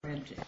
Bridget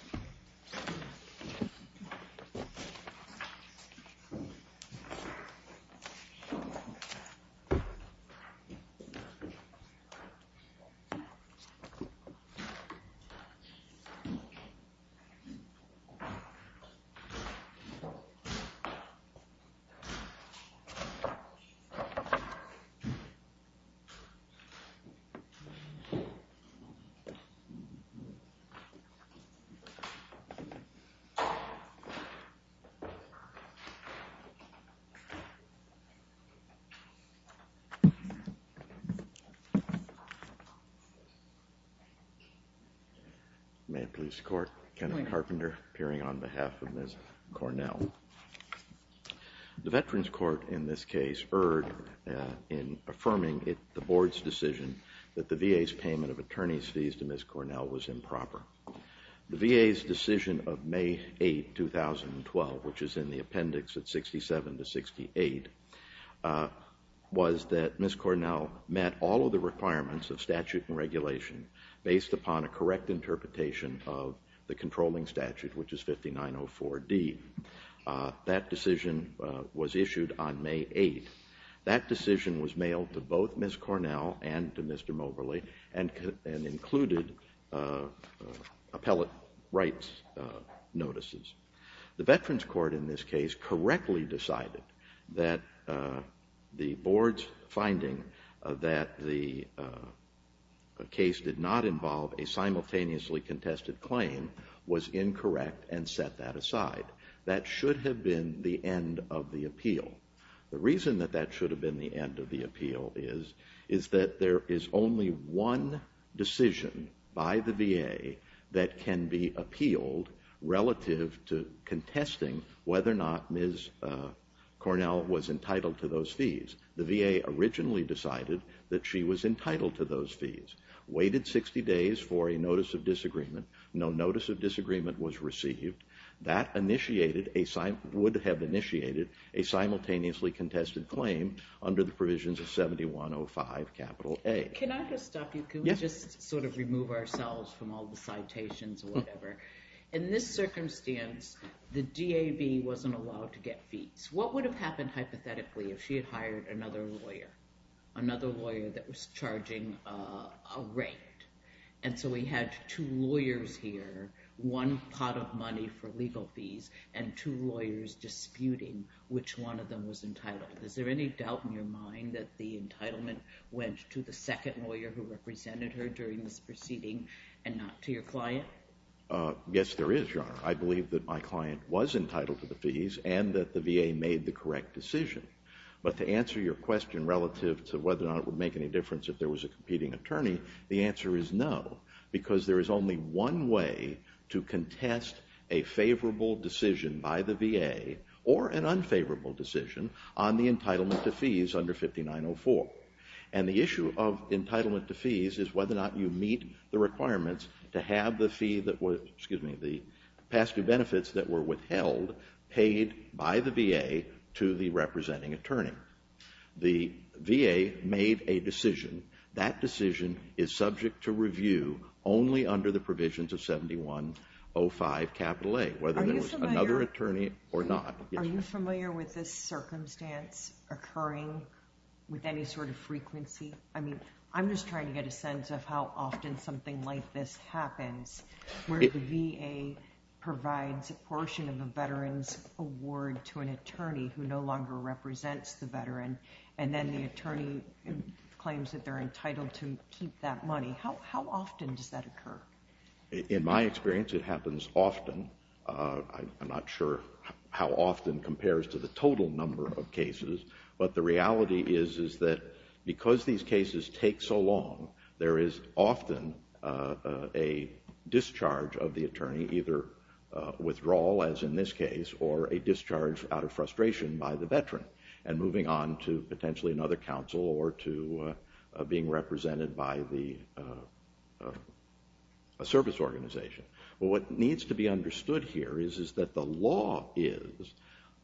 May it please the court, Kenneth Carpenter appearing on behalf of Ms. Cornell. The Veterans Court in this case erred in affirming the board's decision that the VA's payment of attorney's fees to Ms. Cornell was improper. The VA's decision of May 8, 2012, which is in the appendix at 67 to 68, was that Ms. Cornell met all of the requirements of statute and regulation based upon a correct interpretation of the controlling statute, which is 5904D. That decision was issued on May 8. That decision was mailed to both Ms. Cornell and to Mr. Moberly and included appellate rights notices. The Veterans Court in this case correctly decided that the board's finding that the case did not involve a simultaneously contested claim was incorrect and set that aside. That should have been the end of the appeal. The reason that that should have been the end of the appeal is that there is only one decision by the VA that can be appealed relative to contesting whether or not Ms. Cornell was entitled to those fees. The VA originally decided that she was entitled to those fees, waited 60 days for a notice of disagreement. No notice of disagreement was received. That would have initiated a simultaneously contested claim under the provisions of 7105 capital A. Can I just stop you? Can we just sort of remove ourselves from all the citations or whatever? In this circumstance, the DAB wasn't allowed to get fees. What would have happened hypothetically if she had hired another lawyer, another lawyer that was charging a rate? And so we had two lawyers here, one pot of money for legal fees, and two lawyers disputing which one of them was entitled. Is there any doubt in your mind that the entitlement went to the second lawyer who represented her during this proceeding and not to your client? Yes, there is, Your Honor. I believe that my client was entitled to the fees and that the VA made the correct decision. But to answer your question relative to whether or not it would make any difference if there was a competing attorney, the answer is no, because there is only one way to contest a favorable decision by the VA or an unfavorable decision on the entitlement to fees under 5904. And the issue of entitlement to fees is whether or not you meet the requirements to have the fee that was, excuse me, the past due benefits that were withheld paid by the VA to the representing attorney. The VA made a decision. That decision is subject to review only under the provisions of 7105 A, whether there was another attorney or not. Are you familiar with this circumstance occurring with any sort of frequency? I mean, I'm just trying to get a sense of how often something like this happens, where the VA provides a portion of a veteran's award to an attorney who no longer represents the veteran, and then the attorney withdraws that money. How often does that occur? In my experience, it happens often. I'm not sure how often compares to the total number of cases, but the reality is that because these cases take so long, there is often a discharge of the attorney, either withdrawal, as in this case, or a discharge out of frustration by the veteran, and moving on to potentially another counsel or to being represented by a service organization. What needs to be understood here is that the law is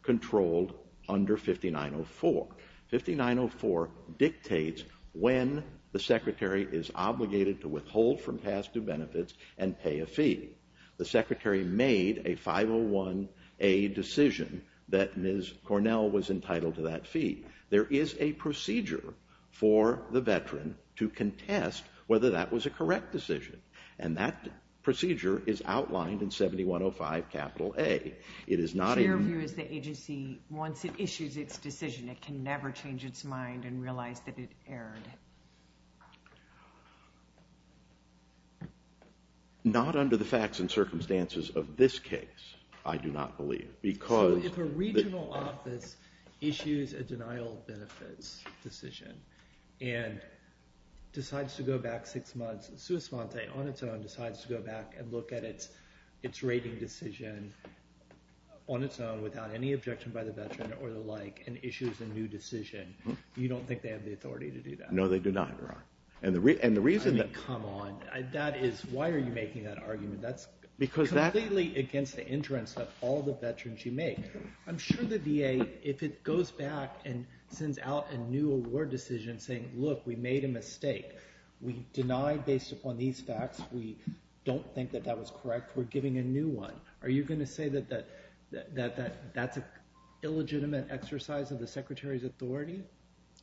controlled under 5904. 5904 dictates when the secretary is obligated to withhold from past due benefits and pay a fee. The secretary made a 501A decision that Ms. Cornell was entitled to that fee. There is a procedure for the veteran to contest whether that was a correct decision, and that procedure is outlined in 7105 capital A. It is not... Your view is the agency, once it issues its decision, it can never change its mind and realize that it erred. Not under the facts and circumstances of this case, I do not believe, because... If a regional office issues a denial of benefits decision and decides to go back six months, sua sponte, on its own, decides to go back and look at its rating decision on its own without any objection by the veteran or the like, and issues a new decision, you don't think they have the authority to do that? No, they do not, Your Honor. And the reason that... I mean, come on. That is... Why are you making that argument? That's... Because that... Completely against the interests of all the veterans you make. I'm sure the VA, if it goes back and sends out a new award decision saying, look, we made a mistake, we denied based upon these facts, we don't think that that was correct, we're giving a new one. Are you going to say that that's an illegitimate exercise of the Secretary's authority?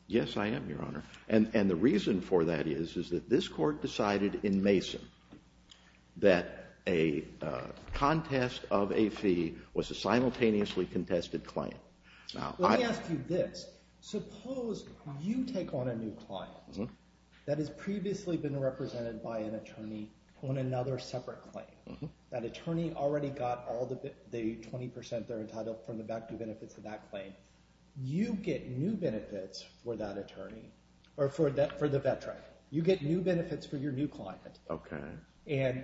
Yes, I am, Your Honor. And the reason for that is, is that this court decided in Mason that a contest of a fee was a simultaneously contested claim. Now, I... Let me ask you this. Suppose you take on a new client that has previously been represented by an attorney on another separate claim. That attorney already got all the 20% they're entitled from the back due benefits of that claim. You get new benefits for that attorney, or for the veteran. You get new benefits for your new client. Okay. And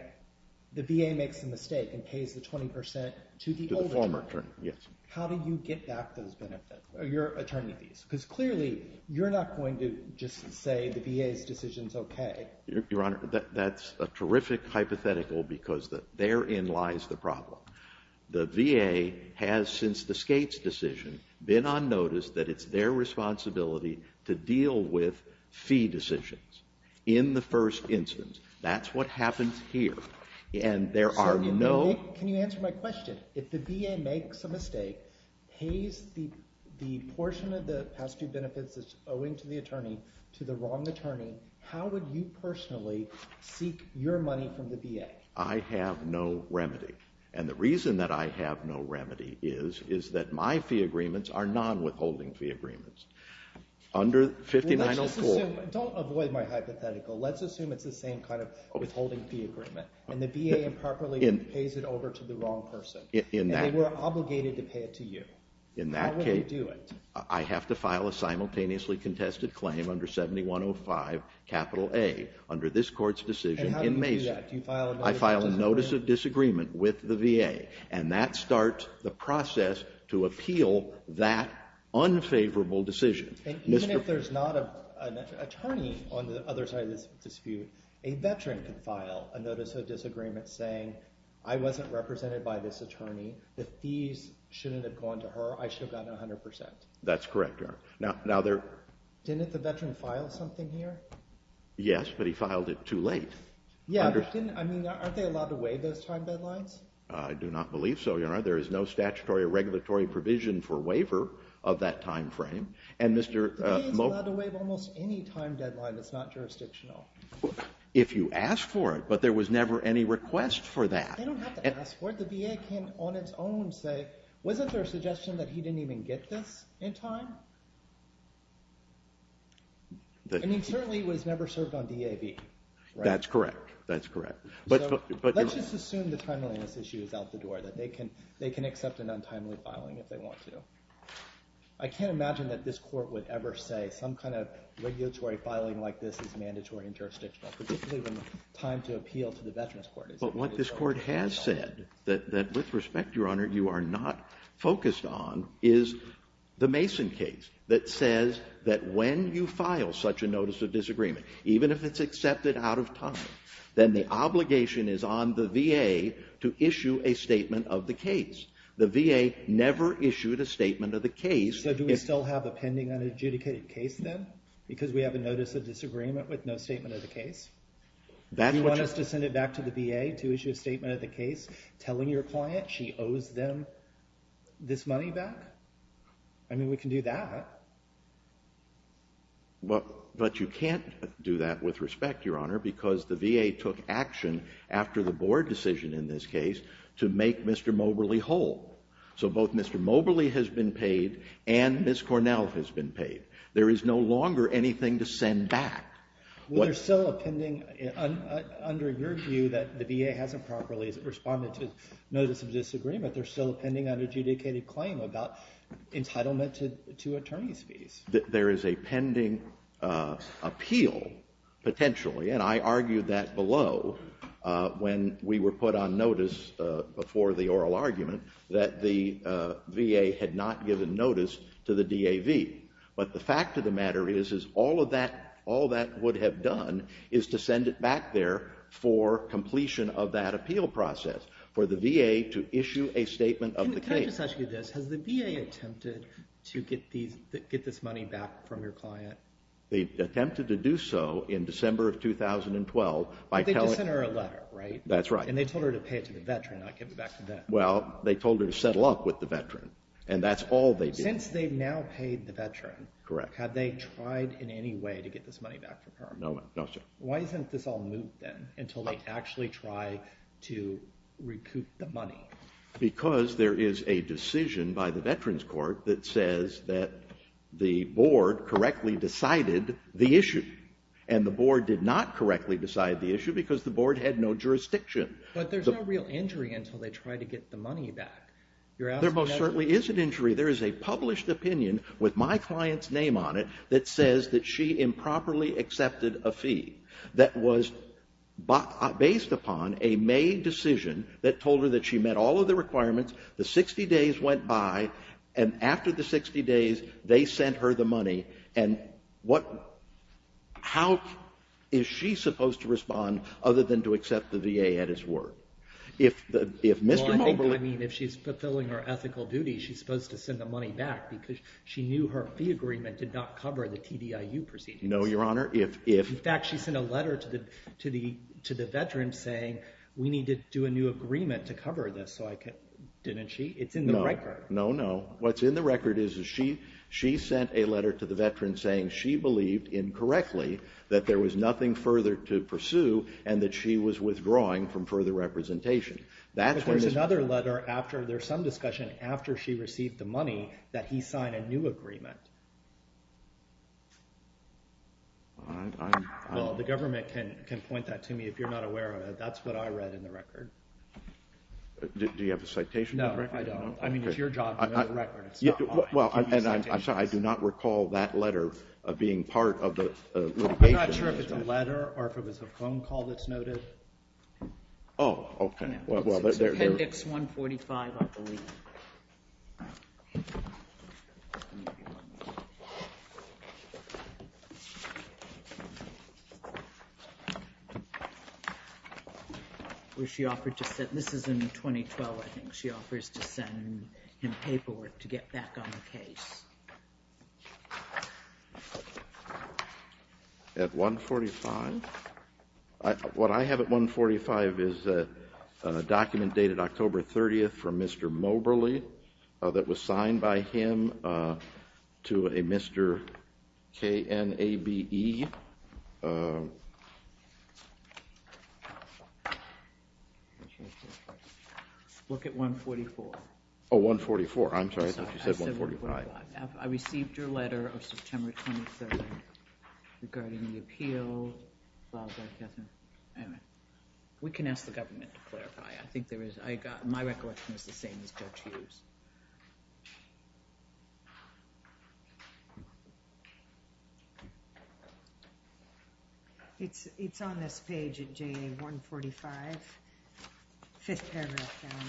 the VA makes a mistake and pays the 20% to the former attorney. Yes. How do you get back those benefits, your attorney fees? Because clearly, you're not going to just say the VA's decision's okay. Your Honor, that's a terrific hypothetical because therein lies the problem. The VA has, since the Skates decision, been on notice that it's their responsibility to deal with fee decisions in the first instance. That's what happens here. And there are no... Can you answer my question? If the VA makes a mistake, pays the portion of the past due benefits that's owing to the attorney to the wrong attorney, how would you personally seek your money from the VA? I have no remedy. And the reason that I have no remedy is, is that my fee agreements are non-withholding fee agreements. Under 5904... Don't avoid my hypothetical. Let's assume it's the same kind of withholding fee agreement. And the VA improperly pays it over to the wrong person. And they were obligated to pay it to you. How would they do it? I have to file a simultaneously contested claim under 7105, capital A, under this court's decision in Mason. I file a notice of disagreement with the VA. And that starts the process to appeal that unfavorable decision. Even if there's not an attorney on the other side of this dispute, a veteran could file a notice of disagreement saying, I wasn't represented by this attorney. The fees shouldn't have gone to her. I should have gotten 100%. That's correct, Your Honor. Now there... Didn't the veteran file something here? Yes, but he filed it too late. Yeah, but didn't... I mean, aren't they allowed to waive those time deadlines? I do not believe so, Your Honor. There is no statutory or regulatory provision for waiver of that time frame. And Mr. Mo... The VA is allowed to waive almost any time deadline that's not jurisdictional. If you ask for it. But there was never any request for that. They don't have to ask for it. The VA can on its own say, wasn't there a suggestion that he didn't even get this in time? I mean, certainly it was never served on DAV, right? That's correct. That's correct. But... So let's just assume the timeliness issue is out the door, that they can accept an untimely filing if they want to. I can't imagine that this court would ever say some kind of regulatory filing like this is mandatory and jurisdictional, particularly when time to appeal to the Veterans Court is... But what this court has said, that with respect, Your Honor, you are not focused on, is the Mason case that says that when you file such a notice of disagreement, even if it's accepted out of time, then the obligation is on the VA to issue a statement of the case. The VA never issued a statement of the case... So do we still have a pending unadjudicated case then? Because we have a notice of disagreement with no statement of the case? That's what... Do you want us to send it back to the VA to issue a statement of the case, telling your client she owes them this money back? I mean, we can do that. But you can't do that with respect, Your Honor, because the VA took action after the board decision in this case to make Mr. Moberly whole. So both Mr. Moberly has been paid and Ms. Cornell has been paid. There is no longer anything to send back. Well, there's still a pending... Under your view that the VA hasn't properly responded to this disagreement, there's still a pending unadjudicated claim about entitlement to attorney's fees. There is a pending appeal, potentially, and I argued that below when we were put on notice before the oral argument that the VA had not given notice to the DAV. But the fact of the matter is all that would have done is to send it back there for completion of that appeal process for the VA to issue a statement of the case. Can I just ask you this? Has the VA attempted to get this money back from your client? They attempted to do so in December of 2012 by telling... They just sent her a letter, right? That's right. And they told her to pay it to the veteran, not give it back to them. Well, they told her to settle up with the veteran, and that's all they did. Since they've now paid the veteran... Correct. ...have they tried in any way to get this money back from her? No, sir. Why isn't this all moot, then, until they actually try to recoup the money? Because there is a decision by the Veterans Court that says that the board correctly decided the issue, and the board did not correctly decide the issue because the board had no jurisdiction. But there's no real injury until they try to get the money back. You're asking... There most certainly is an injury. There is a published opinion with my client's name on it that says that she improperly accepted a fee that was based upon a made decision that told her that she met all of the requirements. The 60 days went by, and after the 60 days, they sent her the money. And how is she supposed to respond other than to accept the VA at his word? Well, I think, I mean, if she's fulfilling her ethical duty, she's supposed to cover the TDIU proceedings. No, Your Honor, if... In fact, she sent a letter to the Veterans saying, we need to do a new agreement to cover this, so I can... Didn't she? It's in the record. No, no. What's in the record is she sent a letter to the Veterans saying she believed, incorrectly, that there was nothing further to pursue, and that she was withdrawing from further representation. But there's another letter after, there's some discussion after she received the letter. Well, the government can point that to me if you're not aware of it. That's what I read in the record. Do you have a citation? No, I don't. I mean, it's your job to know the record. Yeah, well, and I'm sorry, I do not recall that letter being part of the... I'm not sure if it's a letter or if it was a phone call that's noted. Oh, okay. It's appendix 145, I believe. Where she offered to send... This is in 2012, I think. She offers to send him paperwork to get back on the case. At 145? What I have at 145 is a document dated October 30th from Mr. Moberly that was sent to me by Mr. Knabe. Look at 144. Oh, 144. I'm sorry, I thought you said 145. I received your letter of September 23rd regarding the appeal filed by Katherine Emmett. We can ask the government to clarify. I think there is, I got, my recollection is the same as Judge Hughes. It's on this page at JA 145, fifth paragraph down.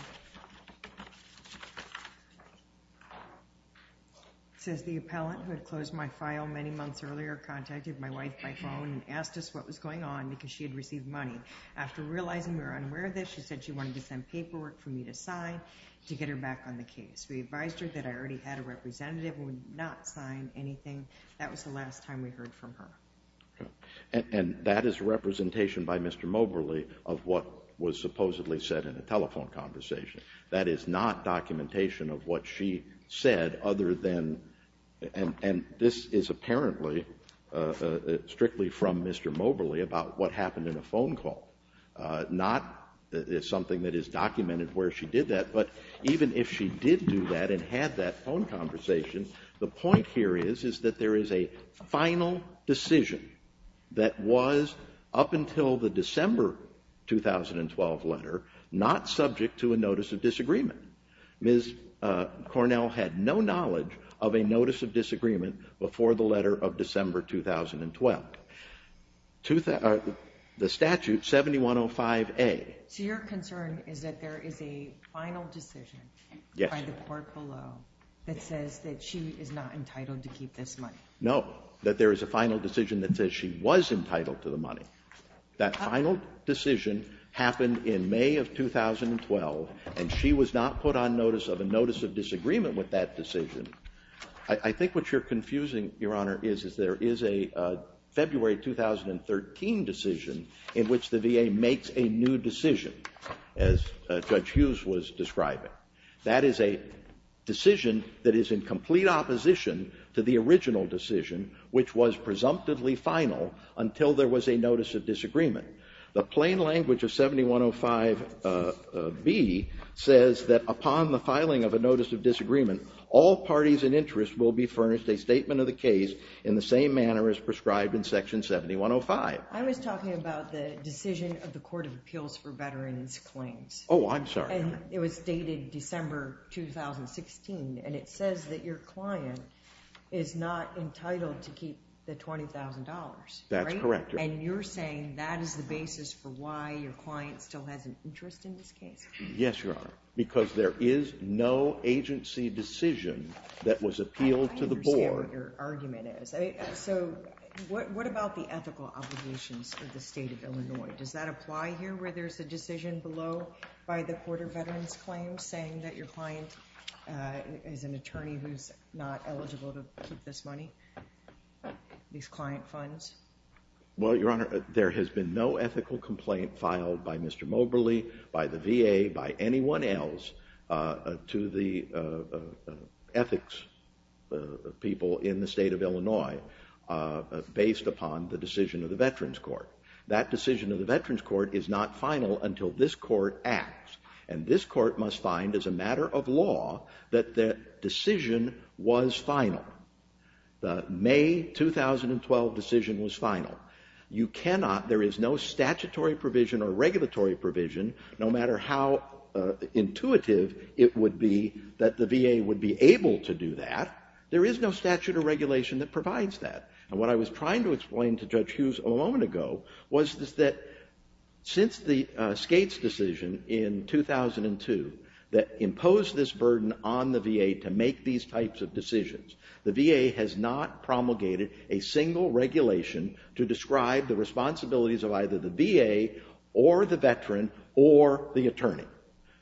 It says, the appellant who had closed my file many months earlier contacted my wife by phone and asked us what was going on because she had received money. After realizing we were unaware of this, she said she wanted to send paperwork for me to sign to get her back on the case. We advised her that I already had a representative and would not sign anything. That was the last time we heard from her. And that is a representation by Mr. Moberly of what was supposedly said in a telephone conversation. That is not documentation of what she said other than, and this is apparently strictly from Mr. Moberly about what happened in a phone call. Not something that is documented where she did that. But even if she did do that and had that phone conversation, the point here is, is that there is a final decision that was up until the December 2012 letter not subject to a notice of disagreement. Ms. Cornell had no knowledge of a notice of disagreement before the letter of December 2012. Now, the statute, 7105A. So your concern is that there is a final decision by the court below that says that she is not entitled to keep this money? No. That there is a final decision that says she was entitled to the money. That final decision happened in May of 2012, and she was not put on notice of a notice of disagreement with that decision. I think what you're confusing, Your Honor, is there is a February 2013 decision in which the VA makes a new decision, as Judge Hughes was describing. That is a decision that is in complete opposition to the original decision, which was presumptively final until there was a notice of disagreement. The plain language of 7105B says that upon the filing of a notice of disagreement, all parties in interest will be furnished a statement of the case in the same manner as prescribed in Section 7105. I was talking about the decision of the Court of Appeals for Veterans Claims. Oh, I'm sorry. And it was dated December 2016, and it says that your client is not entitled to keep the $20,000, right? That's correct, Your Honor. And you're saying that is the basis for why your client still has an interest in this case? Yes, Your Honor, because there is no agency decision that was appealed to the board. I understand what your argument is. So what about the ethical obligations for the state of Illinois? Does that apply here, where there's a decision below by the Court of Veterans Claims saying that your client is an attorney who's not eligible to keep this money, these client funds? Well, Your Honor, there has been no ethical complaint filed by Mr. Moberly, by the VA, by anyone else to the ethics people in the state of Illinois based upon the decision of the Veterans Court. That decision of the Veterans Court is not final until this court acts. And this court must find, as a matter of law, that the decision was final. The May 2012 decision was final. You cannot, there is no statutory provision or regulatory provision, no matter how intuitive it would be that the VA would be able to do that, there is no statute or regulation that provides that. And what I was trying to explain to Judge Hughes a moment ago was that since the Skates decision in 2002 that imposed this burden on the VA to make these types of decisions, the VA has not promulgated a single regulation to describe the responsibilities of either the VA or the veteran or the attorney.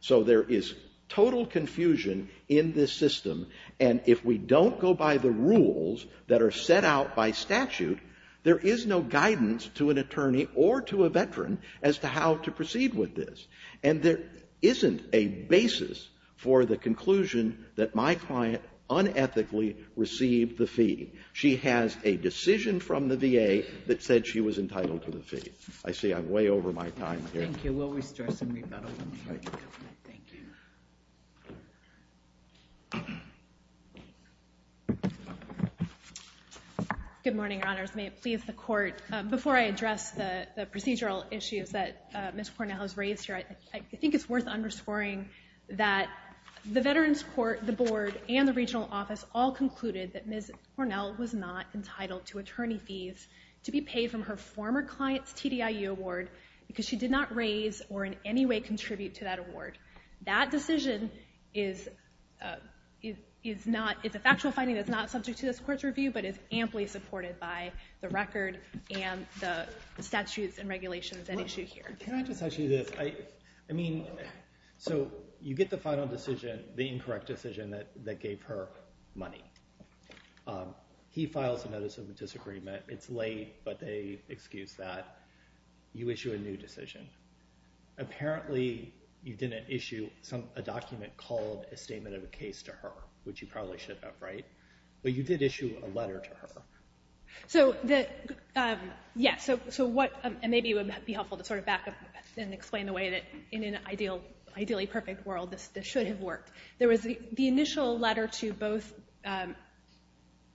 So there is total confusion in this system. And if we don't go by the rules that are set out by statute, there is no guidance to an attorney or to a veteran as to how to proceed with this. And there isn't a basis for the conclusion that my client unethically received the fee. She has a decision from the VA that said she was entitled to the fee. I see I'm way over my time here. Thank you. We'll restore some rebuttals. Thank you. Good morning, Your Honors. May it please the Court, before I address the procedural issues that Ms. Cornell has raised here, I think it's worth underscoring that the Veterans Court, the Board, and the Regional Office all concluded that Ms. Cornell was not entitled to attorney fees to be paid from her former client's TDIU award because she did not raise or in any way contribute to that award. That decision is a factual finding that's not subject to this Court's review but is amply supported by the record and the statutes and regulations at issue here. Can I just ask you this? I mean, so you get the final decision, the incorrect decision that gave her money. He files a notice of disagreement. It's late, but they excuse that. You issue a new decision. Apparently, you didn't issue a document called a statement of a case to her, which you probably should have, right? But you did issue a letter to her. So, yeah, and maybe it would be helpful to sort of back up and explain the way that in an ideally perfect world, this should have worked. There was the initial letter to both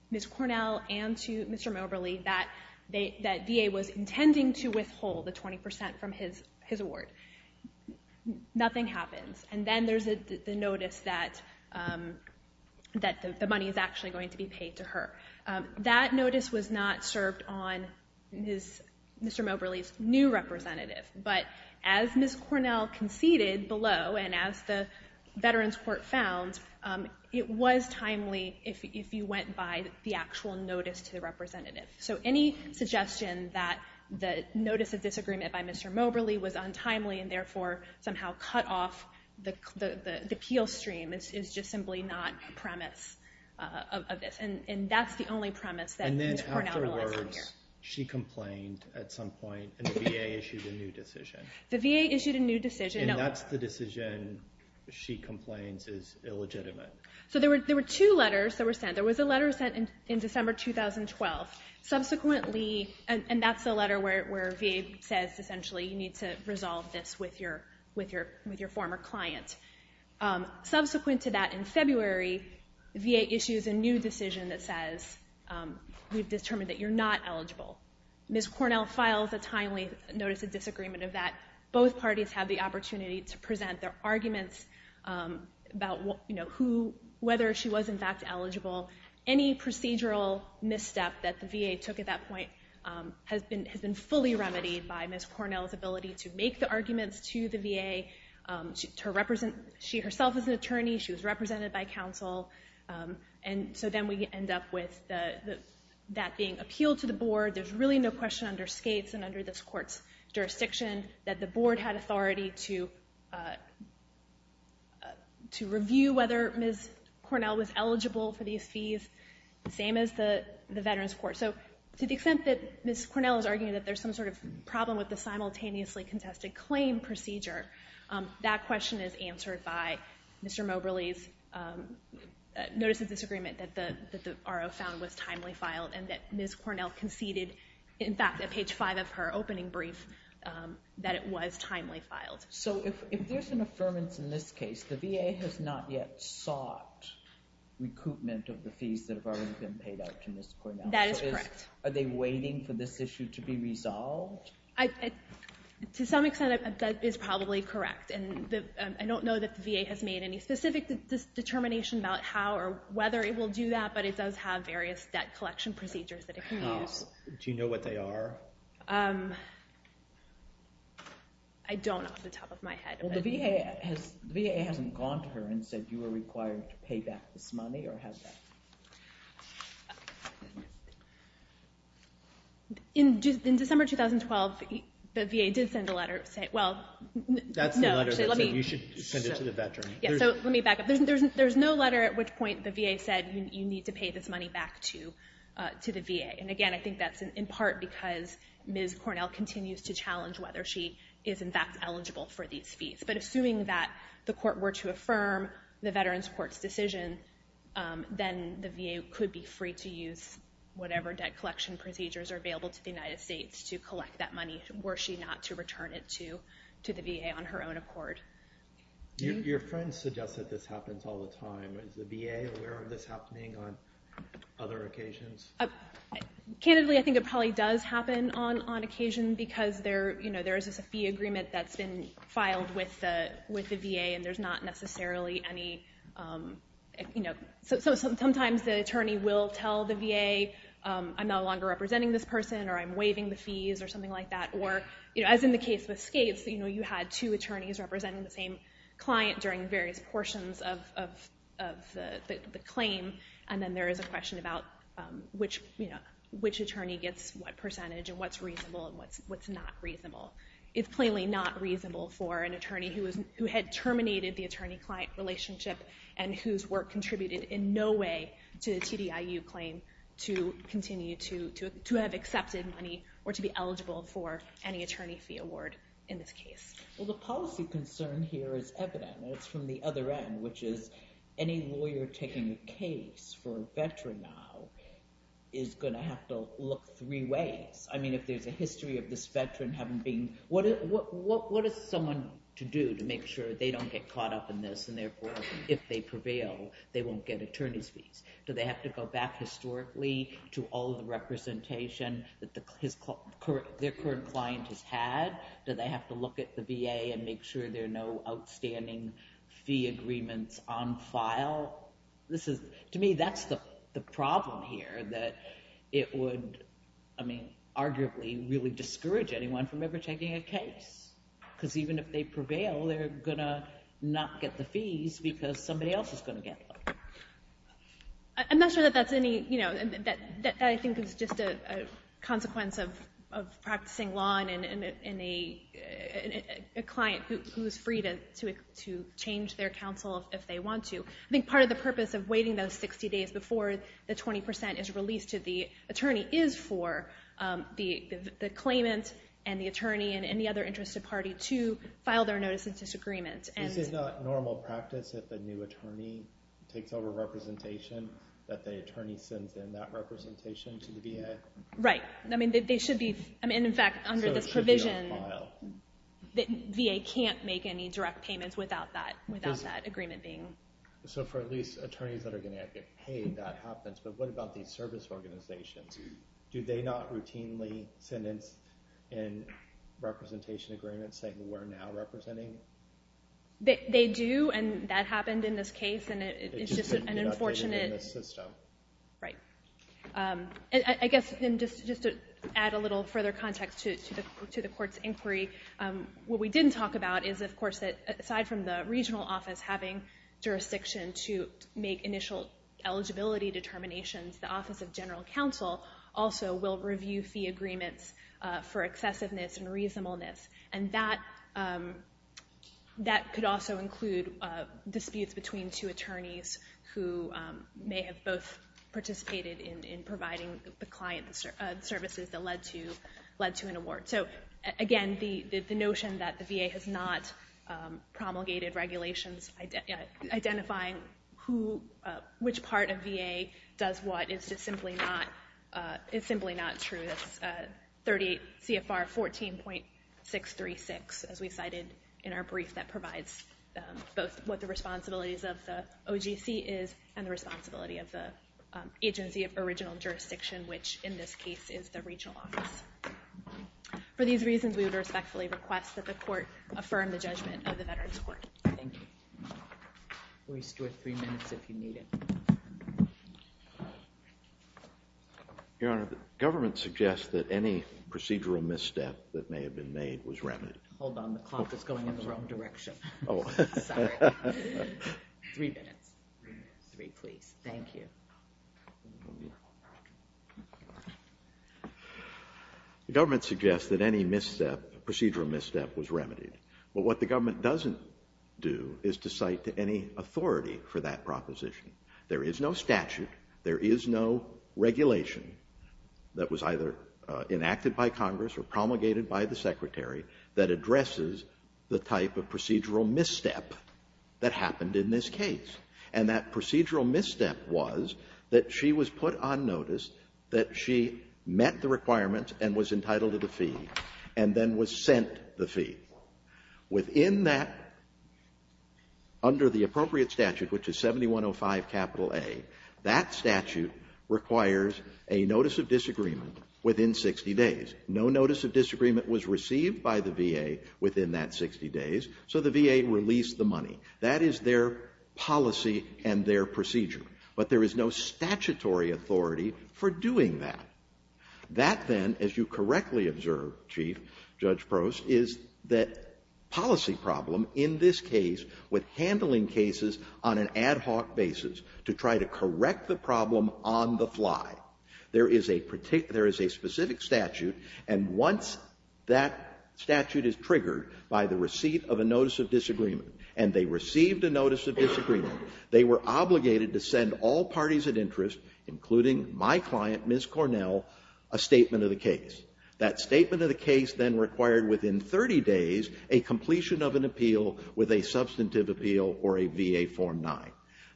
Ms. Cornell and to Mr. Moberly that VA was intending to withhold the 20% from his award. Nothing happens. And then there's the notice that the money is actually going to be paid to her. That notice was not served on Mr. Moberly's new representative. But as Ms. Cornell conceded below and as the Veterans Court found, it was timely if you went by the actual notice to the representative. So any suggestion that the notice of disagreement by Mr. Moberly was untimely and therefore somehow cut off the appeal stream is just simply not premise of this. And that's the only premise that Ms. Cornell has out here. And then afterwards, she complained at some point and the VA issued a new decision. The VA issued a new decision. And that's the decision she complains is illegitimate. So there were two letters that were sent. There was a letter sent in December 2012. Subsequently, and that's the letter where VA says, essentially, you need to resolve this with your former client. Subsequent to that in February, VA issues a new decision that says, we've determined that you're not eligible. Ms. Cornell files a timely notice of disagreement of that. Both parties have the opportunity to present their arguments about whether she was, in fact, eligible. Any procedural misstep that the VA took at that point has been fully remedied by Ms. Cornell. She herself is an attorney. She was represented by counsel. And so then we end up with that being appealed to the board. There's really no question under skates and under this court's jurisdiction that the board had authority to review whether Ms. Cornell was eligible for these fees. Same as the Veterans Court. So to the extent that Ms. Cornell is arguing that there's some sort of problem with the Mr. Moberly's notice of disagreement that the RO found was timely filed and that Ms. Cornell conceded, in fact, at page five of her opening brief, that it was timely filed. So if there's an affirmance in this case, the VA has not yet sought recoupment of the fees that have already been paid out to Ms. Cornell. That is correct. Are they waiting for this issue to be resolved? To some extent, that is probably correct. I don't know that the VA has made any specific determination about how or whether it will do that, but it does have various debt collection procedures that it can use. Do you know what they are? I don't off the top of my head. Well, the VA hasn't gone to her and said you are required to pay back this money or has that? In December 2012, the VA did send a letter saying, well, no. You should send it to the veteran. Yeah, so let me back up. There's no letter at which point the VA said you need to pay this money back to the VA. And again, I think that's in part because Ms. Cornell continues to challenge whether she is, in fact, eligible for these fees. But assuming that the court were to affirm the Veterans Court's decision, then the VA could be free to use whatever debt collection procedures are available to the United States to collect that money were she not to return it to the VA on her own accord. Your friend suggests that this happens all the time. Is the VA aware of this happening on other occasions? Candidly, I think it probably does happen on occasion because there is a fee agreement that's been filed with the VA, and there's not necessarily any. So sometimes the attorney will tell the VA, I'm no longer representing this person, or I'm waiving the fees, or something like that. Or as in the case with Skates, you had two attorneys representing the same client during various portions of the claim. And then there is a question about which attorney gets what percentage, and what's reasonable, and what's not reasonable. It's plainly not reasonable for an attorney who had terminated the attorney-client relationship and whose work contributed in no way to the TDIU claim to continue to have accepted money or to be eligible for any attorney fee award in this case. Well, the policy concern here is evident, and it's from the other end, which is any lawyer taking a case for a veteran now is going to have to look three ways. I mean, if there's a history of this veteran having been, what is someone to do to make sure they don't get caught up in this, and therefore, if they prevail, they won't get attorney's fees? Do they have to go back historically to all the representation that their current client has had? Do they have to look at the VA and make sure there are no outstanding fee agreements on file? To me, that's the problem here, that it would arguably really discourage anyone from ever taking a case, because even if they prevail, they're going to not get the fees because somebody else is going to get them. I'm not sure that that's any... I think it's just a consequence of practicing law and a client who is free to change their counsel if they want to. I think part of the purpose of waiting those 60 days before the 20% is released to the claimant and the attorney and any other interested party to file their notice of disagreement. This is not normal practice if a new attorney takes over representation, that the attorney sends in that representation to the VA? Right. I mean, they should be... I mean, in fact, under this provision, VA can't make any direct payments without that agreement being... So for at least attorneys that are going to have to get paid, that happens. But what about these service organizations? Do they not routinely send in representation agreements saying, we're now representing? They do, and that happened in this case, and it's just an unfortunate... It just didn't get updated in this system. Right. I guess just to add a little further context to the court's inquiry, what we didn't talk about is, of course, that aside from the regional office having jurisdiction to make initial eligibility determinations, the Office of General Counsel also will review fee agreements for excessiveness and reasonableness. And that could also include disputes between two attorneys who may have both participated in providing the client services that led to an award. So again, the notion that the VA has not promulgated regulations identifying who... Which part of VA does what is just simply not... It's simply not true. That's 38 CFR 14.636, as we cited in our brief that provides both what the responsibilities of the OGC is and the responsibility of the agency of original jurisdiction, which in this case is the regional office. For these reasons, we would respectfully request that the court affirm the judgment of the Veterans Court. Thank you. We'll restore three minutes if you need it. Your Honor, the government suggests that any procedural misstep that may have been made was remedied. Hold on. The clock is going in the wrong direction. Three minutes. Three, please. Thank you. The government suggests that any procedural misstep was remedied. But what the government doesn't do is to cite to any authority for that proposition. There is no statute. There is no regulation that was either enacted by Congress or promulgated by the Secretary that addresses the type of procedural misstep that happened in this case. And that procedural misstep was that she was put on notice that she met the requirements and was entitled to the fee and then was sent the fee. Within that, under the appropriate statute, which is 7105 capital A, that statute requires a notice of disagreement within 60 days. No notice of disagreement was received by the VA within that 60 days. So the VA released the money. That is their policy and their procedure. But there is no statutory authority for doing that. That, then, as you correctly observe, Chief Judge Prost, is that policy problem in this case with handling cases on an ad hoc basis to try to correct the problem on the fly. There is a specific statute. And once that statute is triggered by the receipt of a notice of disagreement and they received a notice of disagreement, they were obligated to send all parties of interest, including my client, Ms. Cornell, a statement of the case. That statement of the case then required within 30 days a completion of an appeal with a substantive appeal or a VA Form 9.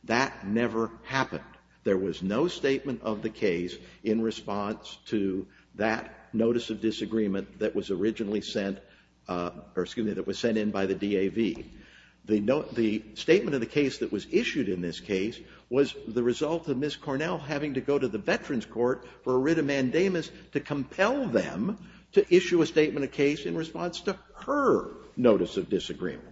That never happened. There was no statement of the case in response to that notice of disagreement that was originally sent, or excuse me, that was sent in by the DAV. The statement of the case that was issued in this case was the result of Ms. Cornell having to go to the Veterans Court for a writ of mandamus to compel them to issue a statement of case in response to her notice of disagreement.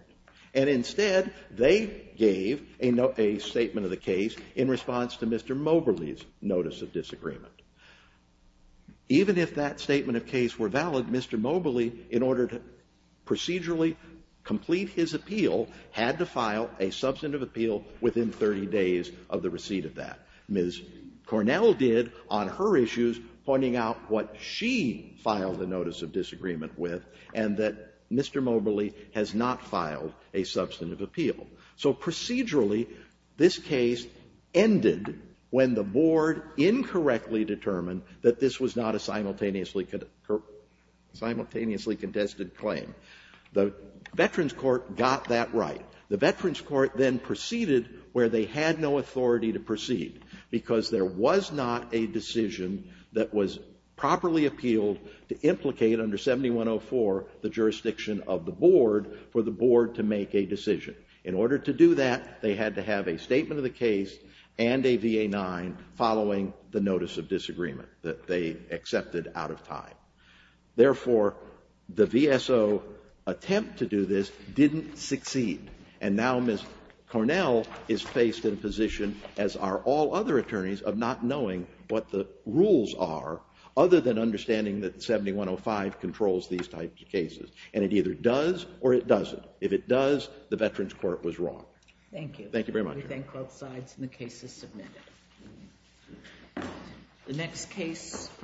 And instead, they gave a statement of the case in response to Mr. Mobley's notice of disagreement. Even if that statement of case were valid, Mr. Mobley, in order to procedurally complete his appeal, had to file a substantive appeal within 30 days of the receipt of that. Ms. Cornell did on her issues, pointing out what she filed a notice of disagreement with and that Mr. Mobley has not filed a substantive appeal. So procedurally, this case ended when the Board incorrectly determined that this was not a simultaneously contested claim. The Veterans Court got that right. The Veterans Court then proceeded where they had no authority to proceed because there was not a decision that was properly appealed to implicate under 7104 the jurisdiction of the Board for the Board to make a decision. In order to do that, they had to have a statement of the case and a VA-9 following the notice of disagreement that they accepted out of time. Therefore, the VSO attempt to do this didn't succeed. And now Ms. Cornell is faced in a position, as are all other attorneys, of not knowing what the rules are, other than understanding that 7105 controls these types of cases. And it either does or it doesn't. If it does, the Veterans Court was wrong. Thank you. Thank you very much. We thank both sides and the case is submitted. The next case.